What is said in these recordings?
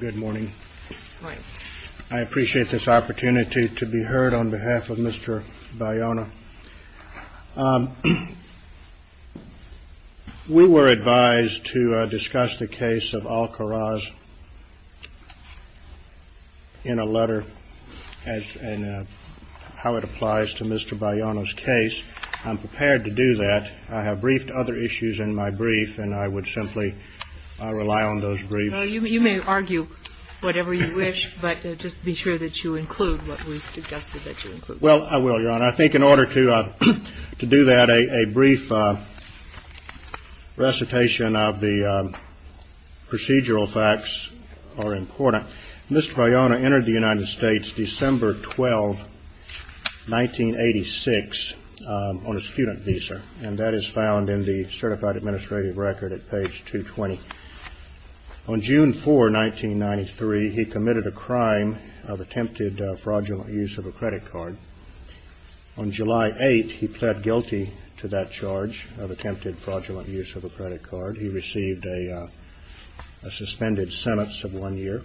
Good morning. I appreciate this opportunity to be heard on behalf of Mr. Bayona. We were advised to discuss the case of Alcaraz in a letter and how it applies to Mr. Bayona's case. I'm prepared to do that. I have briefed other issues in my brief, and I would simply rely on those briefs. THE COURT You may argue whatever you wish, but just be sure that you include what we suggested that you include. BAYONA Well, I will, Your Honor. I think in order to do that, a brief recitation of the procedural facts are important. Mr. Bayona entered the on a student visa, and that is found in the Certified Administrative Record at page 220. On June 4, 1993, he committed a crime of attempted fraudulent use of a credit card. On July 8, he pled guilty to that charge of attempted fraudulent use of a credit card. He received a suspended sentence of one year.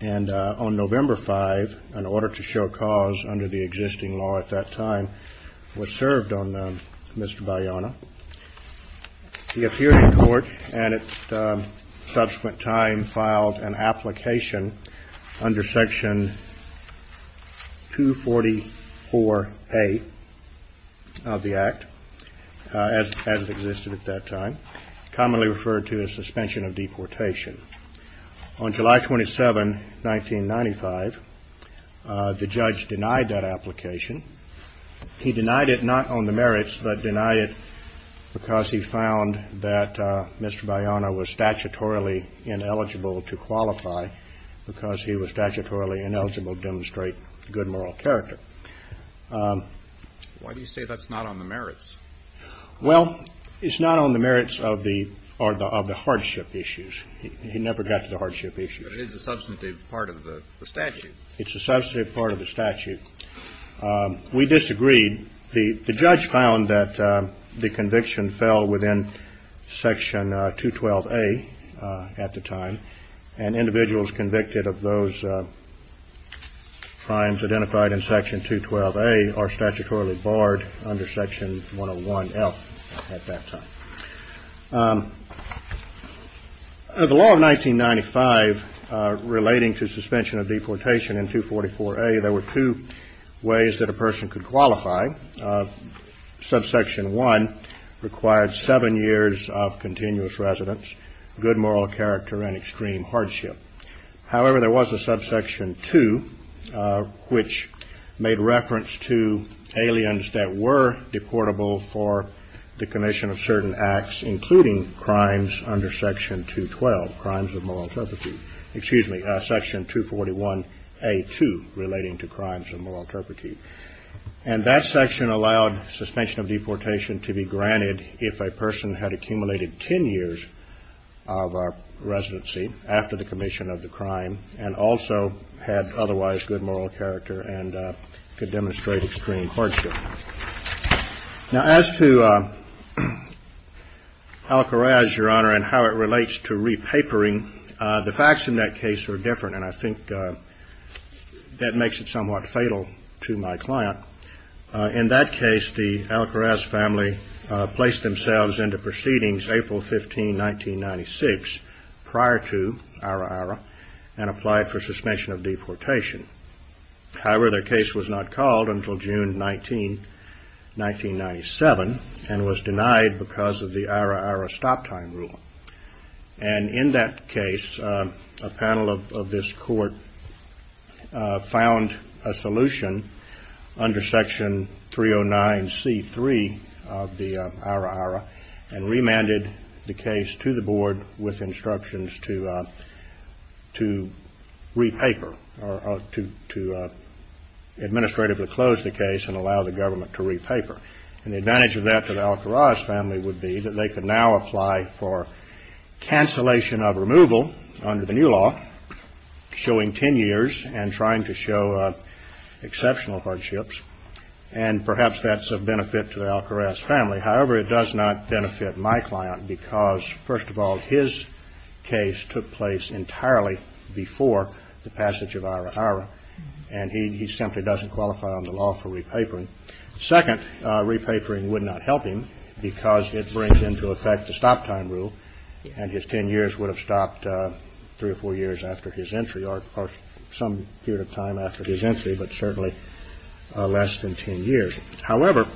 And on November 5, in order to show cause under the existing law at that time, was served on Mr. Bayona. He appeared in court, and at subsequent time filed an application under Section 244A of the Act, as it existed at that time, commonly referred to as suspension of deportation. On July 27, 1995, the judge denied that application. He denied it not on the merits, but denied it because he found that Mr. Bayona was statutorily ineligible to qualify, because he was statutorily ineligible to demonstrate good moral character. THE COURT Why do you say that's not on the merits? Well, it's not on the merits of the hardship issues. He never got to the hardship issues. But it is a substantive part of the statute. It's a substantive part of the statute. We disagreed. The judge found that the conviction fell within Section 212A at the time, and individuals convicted of those crimes identified in Section 212A are statutorily barred under Section 101F at that time. The law of 1995 relating to suspension of deportation in 244A, there were two ways that a person could qualify. Subsection 1 required seven years of continuous residence, good reference to aliens that were deportable for the commission of certain acts, including crimes under Section 212, crimes of moral turpitude, excuse me, Section 241A.2 relating to crimes of moral turpitude. And that section allowed suspension of deportation to be granted if a person had accumulated ten years of residency after the commission of the crime, and also had otherwise good moral character and could demonstrate extreme hardship. Now, as to Alcaraz, Your Honor, and how it relates to repapering, the facts in that case are different, and I think that makes it somewhat fatal to my client. In that case, the Alcaraz family placed themselves into proceedings April 15, 1996, prior to Ara Ara, and applied for suspension of deportation. However, their case was not called until June 1997, and was denied because of the Ara Ara stop time rule. And in that case, a panel of this court found a solution under Section 309C.3 of the Ara Ara, and remanded the case to the board with the intention of allowing the government to repaper, or to administratively close the case and allow the government to repaper. And the advantage of that to the Alcaraz family would be that they could now apply for cancellation of removal under the new law, showing ten years and trying to show exceptional hardships. And perhaps that's a benefit to the Alcaraz family. However, it does not benefit my client because, first of all, his case took place entirely before the passage of Ara Ara, and he simply doesn't qualify under the law for repapering. Second, repapering would not help him because it brings into effect the stop time rule, and his ten years would have stopped three or four years after his entry, or some period of time after his entry, but certainly less than ten years. However,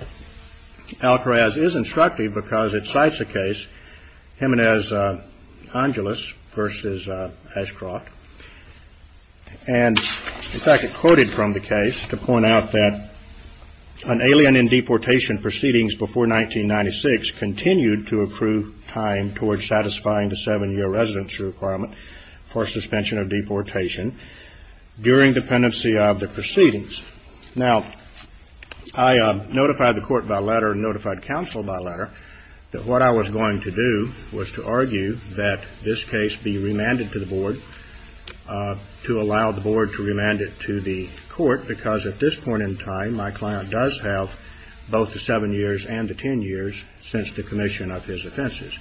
Alcaraz is instructive because it cites a case, Jimenez-Angeles v. Ashcroft, and in fact it quoted from the case to point out that an alien in deportation proceedings before 1996 continued to approve time towards satisfying the seven-year residency requirement for suspension of deportation during dependency of the proceedings. Now, I notified the court by letter and notified counsel by letter that what I was going to do was to argue that this case be remanded to the board, to allow the board to remand it to the court, because at this point in time my client does have both the seven years and the ten years since the commission of his offenses.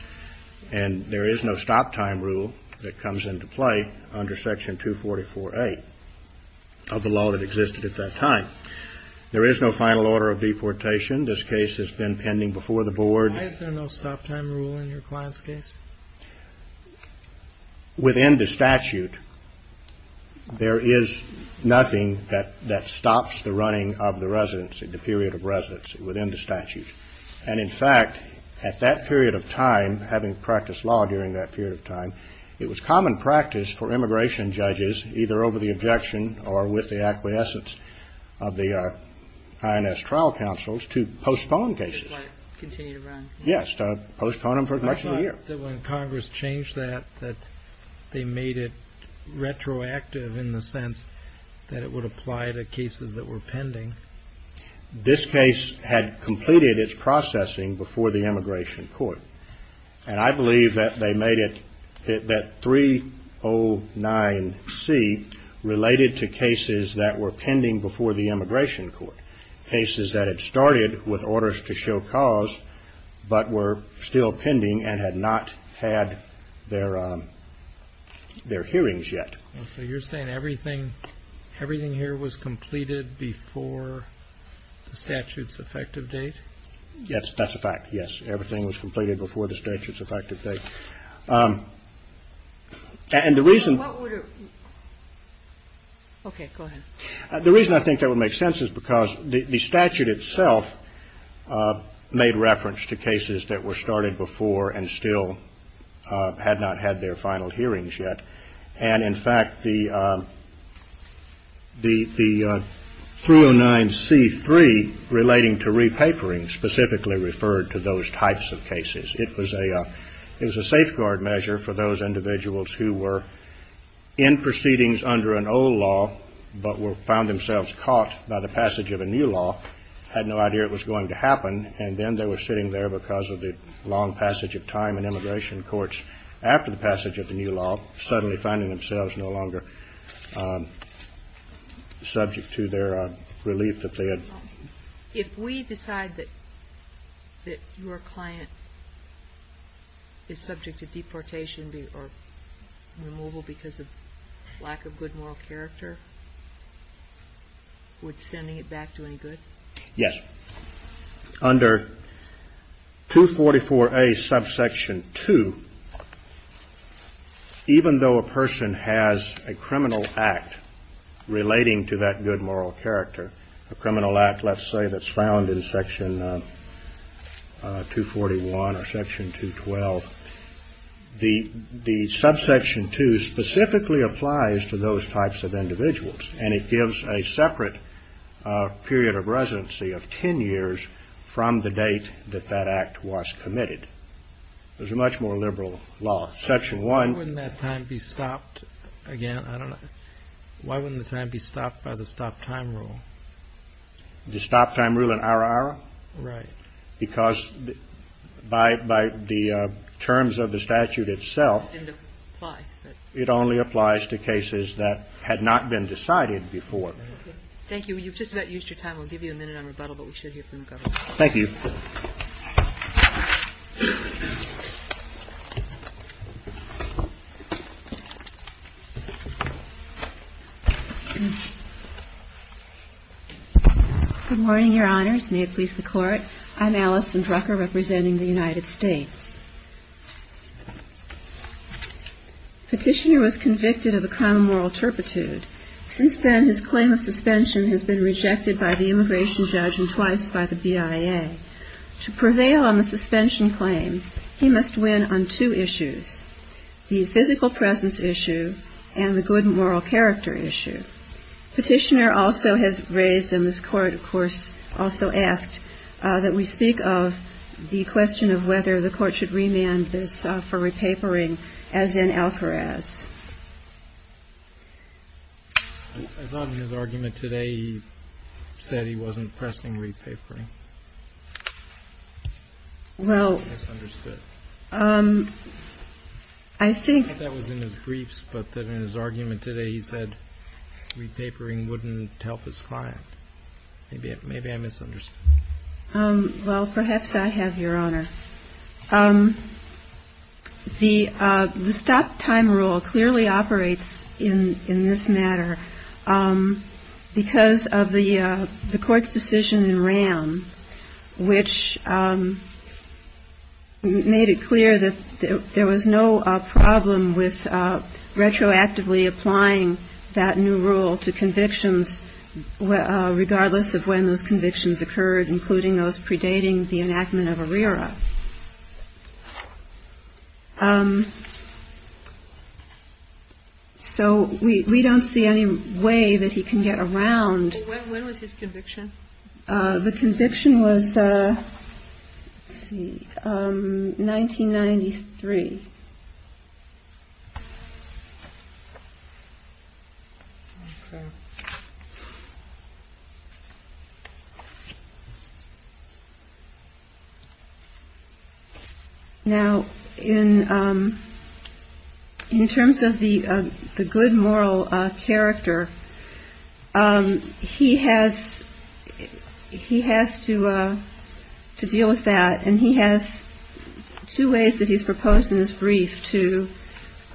And there is no stop time rule that comes into play under Section 244A of the law that existed at that time. There is no final order of deportation. This case has been pending before the board. Why is there no stop time rule in your client's case? Within the statute, there is nothing that stops the running of the residency, the period of residency within the statute. And in fact, at that period of time, having practiced law during that period of time, it was common practice for immigration judges, either over the objection or with the acquiescence of the INS trial counsels, to postpone cases. To continue to run? Yes, to postpone them for as much as a year. I thought that when Congress changed that, that they made it retroactive in the sense that it would apply to cases that were pending. This case had completed its processing before the immigration court. And I believe that they made it, that 309C, related to cases that were pending before the immigration court. Cases that had started with orders to show cause, but were still pending and had not had their hearings yet. So you're saying everything here was completed before the statute's effective date? Yes, that's a fact, yes. Everything was completed before the statute's effective date. And the reason the reason I think that would make sense is because the statute itself made reference to cases that were started before and still had not had their re-papering specifically referred to those types of cases. It was a it was a safeguard measure for those individuals who were in proceedings under an old law, but were found themselves caught by the passage of a new law, had no idea it was going to happen, and then they were sitting there because of the long passage of time in immigration courts after the passage of the new law, suddenly finding themselves no longer subject to their relief that they had. If we decide that your client is subject to deportation or removal because of lack of good moral character, would sending it back do any good? Yes. Under 244A subsection 2, even though a person has a criminal act relating to that good moral character, a criminal act, let's say, that's found in section 241 or section 212, the subsection 2 specifically applies to those types of individuals, and it gives a separate period of residency of 10 years from the date that that act was committed. There's a much more liberal law. Section 1... The stop-time rule. The stop-time rule in ARA-ARA? Right. Because by the terms of the statute itself, it only applies to cases that had not been decided before. Thank you. You've just about used your time. We'll give you a minute on rebuttal, but we should hear from the Governor. Thank you. Good morning, Your Honors. May it please the Court? I'm Allison Drucker, representing the United States. Petitioner was convicted of a criminal moral turpitude. Since then, his claim of suspension has been rejected by the immigration judge and twice by the BIA. To prevail on the suspension claim, he must win on two issues, the physical presence issue and the good moral character issue. Petitioner also has raised, and this Court, of course, also asked, that we speak of the question of whether the Court should remand this for repapering as in Alcaraz. I thought in his argument today he said he wasn't pressing repapering. Well, I think that was in his briefs, but that in his argument today he said repapering wouldn't help his client. Maybe I misunderstood. Well, perhaps I have, Your Honor. The stop time rule clearly operates in this matter because of the Court's decision in RAM which made it clear that there was no problem with retroactively applying that new rule to convictions regardless of when those convictions occurred, including those predating the enactment of ARERA. So we don't see any way that he can get around. When was his conviction? The conviction was, let's see, 1993. Now, in terms of the good moral character, he has to deal with that, and he has two ways that he's proposed in his brief to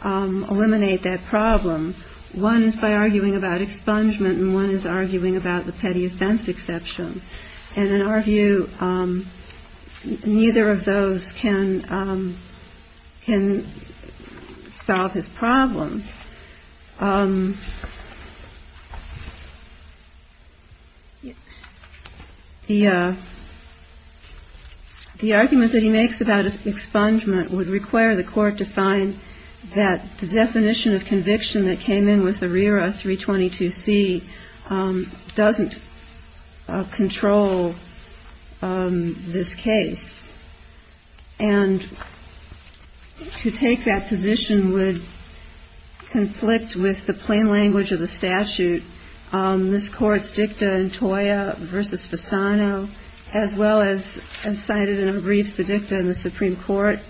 eliminate that problem. One is by arguing about expungement, and one is arguing about the petty offense exception. And in our view, neither of those can solve his problem. The argument that he makes about expungement would require the Court to find that the definition of conviction that came in with ARERA 322C doesn't control this case. And to take that position would conflict with the plain language of the statute. This Court's dicta in Toya v. Fasano, as well as cited in a brief, the dicta in the Supreme Court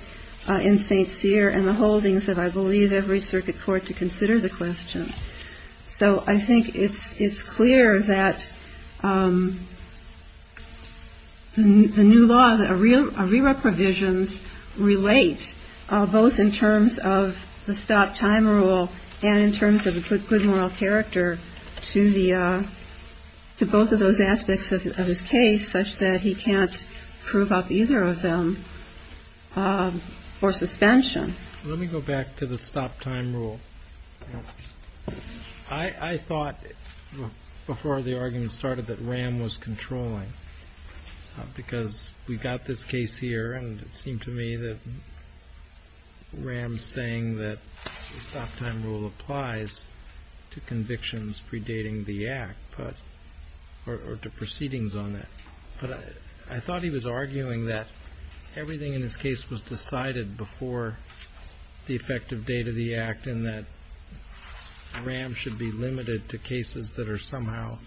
in St. Cyr and the holdings of, I believe, every circuit court to consider the question. So I think it's clear that the new law, the ARERA provisions, relate both in terms of the stop-time rule and in terms of the good moral character to both of those aspects of his case, such that he can't prove up either of them for suspension. Let me go back to the stop-time rule. I thought, before the argument started, that Ram was controlling, because we've got this case here, and it seemed to me that Ram's saying that the stop-time rule applies to convictions predating the Act, or to proceedings on that. But I thought he was arguing that everything in his case was decided before the effective date of the Act, and that Ram should be limited to cases that are somehow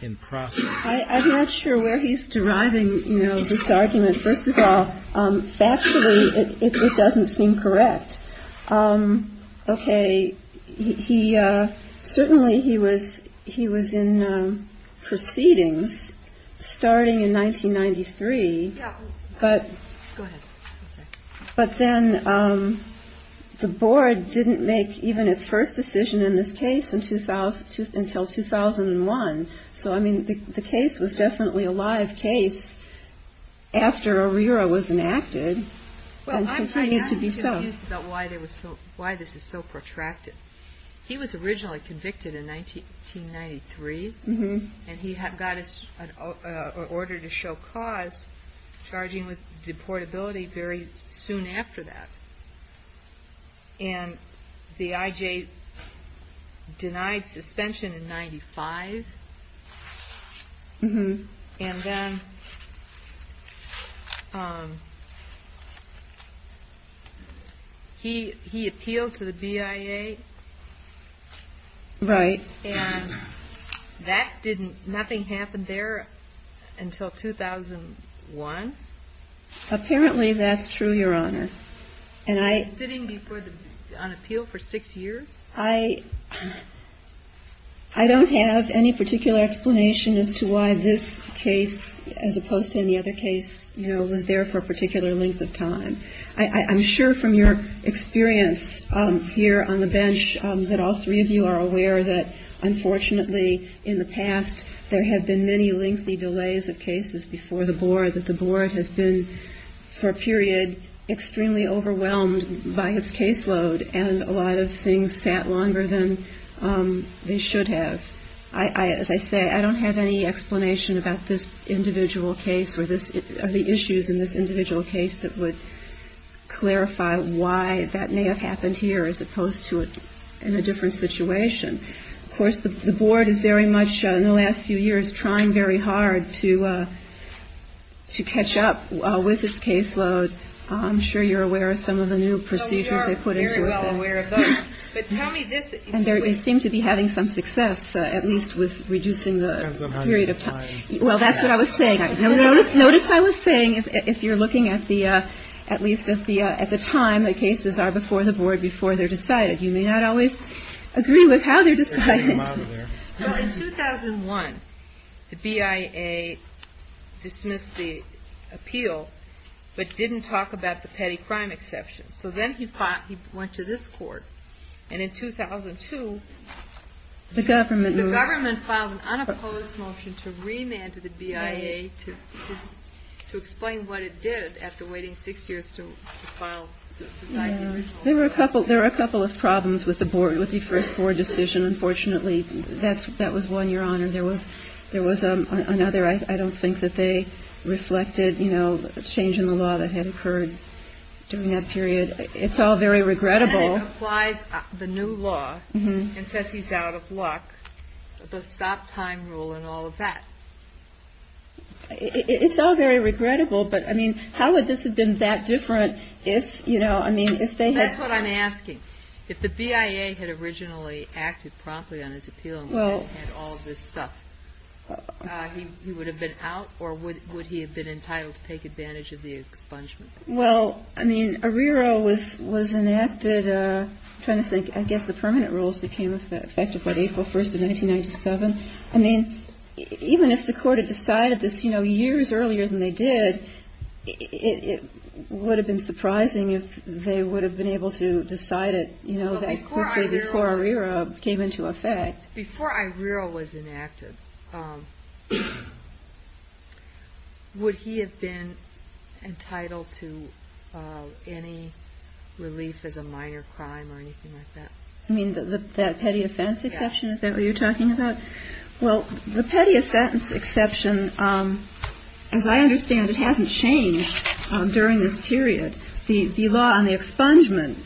in process. I'm not sure where he's deriving this argument. First of all, factually, it doesn't seem correct. Certainly he was in proceedings starting in 1993, but then the Board didn't make even its first decision in this case until 2001. So the case was definitely a live case after ARERA was enacted. I'm confused about why this is so protracted. He was originally convicted in 1993, and he got an order to show cause charging with deportability very soon after that. And the IJ denied suspension in 1995. He appealed to the BIA. Right. And nothing happened there until 2001? Apparently that's true, Your Honor. Was he sitting on appeal for six years? I don't have any particular explanation as to why this case, as opposed to any other case, was there for a particular length of time. I'm sure from your experience here on the bench that all three of you are aware that unfortunately in the past there have been many lengthy delays of cases before the Board, and I'm sure that the Board has been for a period extremely overwhelmed by its caseload, and a lot of things sat longer than they should have. As I say, I don't have any explanation about this individual case or the issues in this individual case that would clarify why that may have happened here, as opposed to in a different situation. Of course, the Board is very much in the last few years trying very hard to catch up with its caseload. I'm sure you're aware of some of the new procedures they put into it. And they seem to be having some success, at least with reducing the period of time. Well, that's what I was saying. Notice I was saying, if you're looking at the time that cases are before the Board before they're decided, you may not always agree with how they're decided. In 2001, the BIA dismissed the appeal, but didn't talk about the petty crime exception. So then he went to this Court, and in 2002, the government filed an unopposed motion to remand to the BIA to explain what it did after waiting six years to file the decision. There were a couple of problems with the Board looking for a score decision, unfortunately. That was one, Your Honor. There was another. I don't think that they reflected the change in the law that had occurred during that period. It's all very regrettable. Then it applies the new law and says he's out of luck, the stop-time rule and all of that. It's all very regrettable, but how would this have been that different if they had... That's what I'm asking. If the BIA had originally acted promptly on his appeal and had all of this stuff, he would have been out, or would he have been entitled to take advantage of the expungement? Well, I mean, Arrero was enacted, I'm trying to think, I guess the permanent rules became effective on April 1st of 1997. I mean, even if the Court had decided this years earlier than they did, it would have been surprising if they would have been able to decide it, you know, quickly before Arrero came into effect. Before Arrero was enacted, would he have been entitled to any relief as a minor crime or anything like that? You mean that petty offense exception? Is that what you're talking about? Well, the petty offense exception, as I understand it, hasn't changed during this period. The law on the expungement,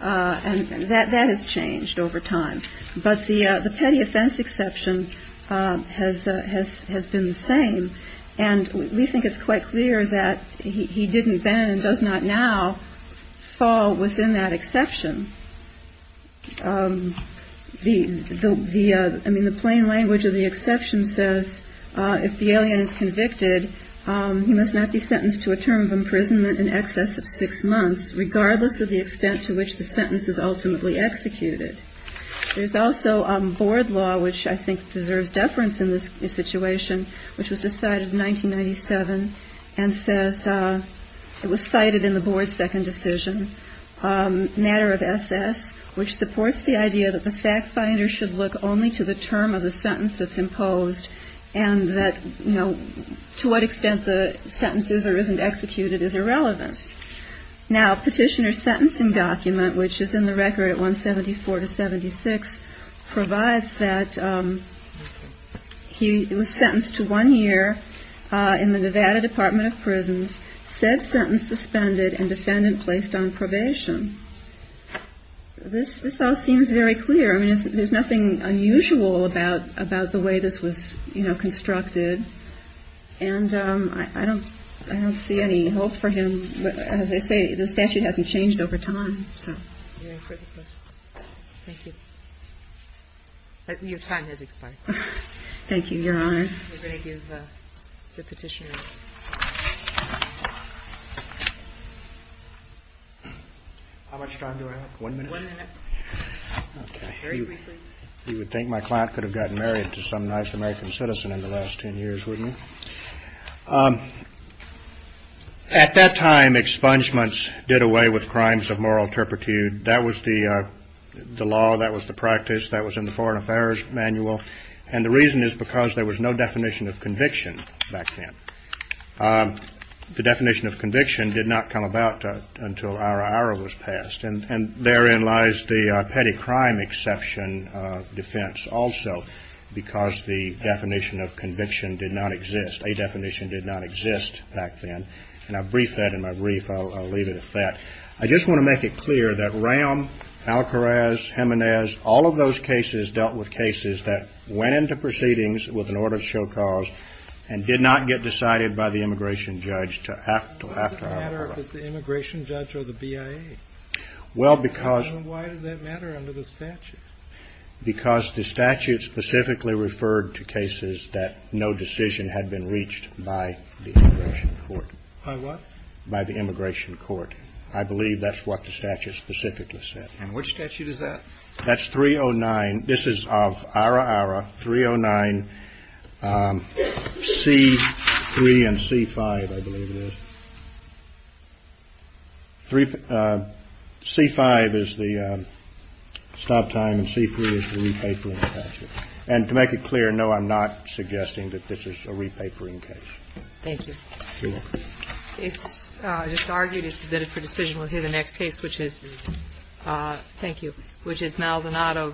that has changed over time. But the petty offense exception has been the same. And we think it's quite clear that he didn't then and does not now fall within that exception. I mean, the plain language of the exception says, if the alien is convicted, he must not be sentenced to a term of imprisonment in excess of six months, regardless of the extent to which the sentence is ultimately executed. There's also board law, which I think deserves deference in this situation, which was decided in 1997 and says, it was cited in the board's second decision. Matter of SS, which supports the idea that the fact finder should look only to the term of the sentence that's imposed and that, you know, to what extent the sentence is or isn't executed is irrelevant. Now, petitioner's sentencing document, which is in the record at 174 to 76, provides that he was sentenced to one year in the Nevada Department of Prisons, said sentence suspended and defendant placed on probation. This all seems very clear. I mean, there's nothing unusual about the way this was constructed. And I don't see any hope for him. As I say, the statute hasn't changed over time. Your time has expired. Thank you, Your Honor. How much time do I have? One minute? You would think my client could have gotten married to some nice American citizen in the last ten years, wouldn't you? At that time, expungements did away with crimes of moral turpitude. That was the law. That was the practice. That was in the Foreign Affairs Manual. And the reason is because there was no definition of conviction back then. The definition of conviction did not come about until Ara Ara was passed. And therein lies the petty crime exception defense also, because the definition of conviction did not exist. A definition did not exist back then. And I'll brief that in my brief. I'll leave it at that. I just want to make it clear that Ram, Alcaraz, Jimenez, all of those cases dealt with cases that went into proceedings with an order of show cause and did not get decided by the immigration judge to act after Ara Ara. Why does it matter if it's the immigration judge or the BIA? Because the statute specifically referred to cases that no decision had been reached by the immigration court. By what? By the immigration court. I believe that's what the statute specifically said. And which statute is that? That's 309. This is of Ara Ara, 309. C3 and C5, I believe it is. C5 is the stop time and C3 is the re-papering statute. And to make it clear, no, I'm not suggesting that this is a re-papering case. Thank you. You're welcome. It's just argued it's submitted for decision. We'll hear the next case, which is Maldonado v. Ashcroft.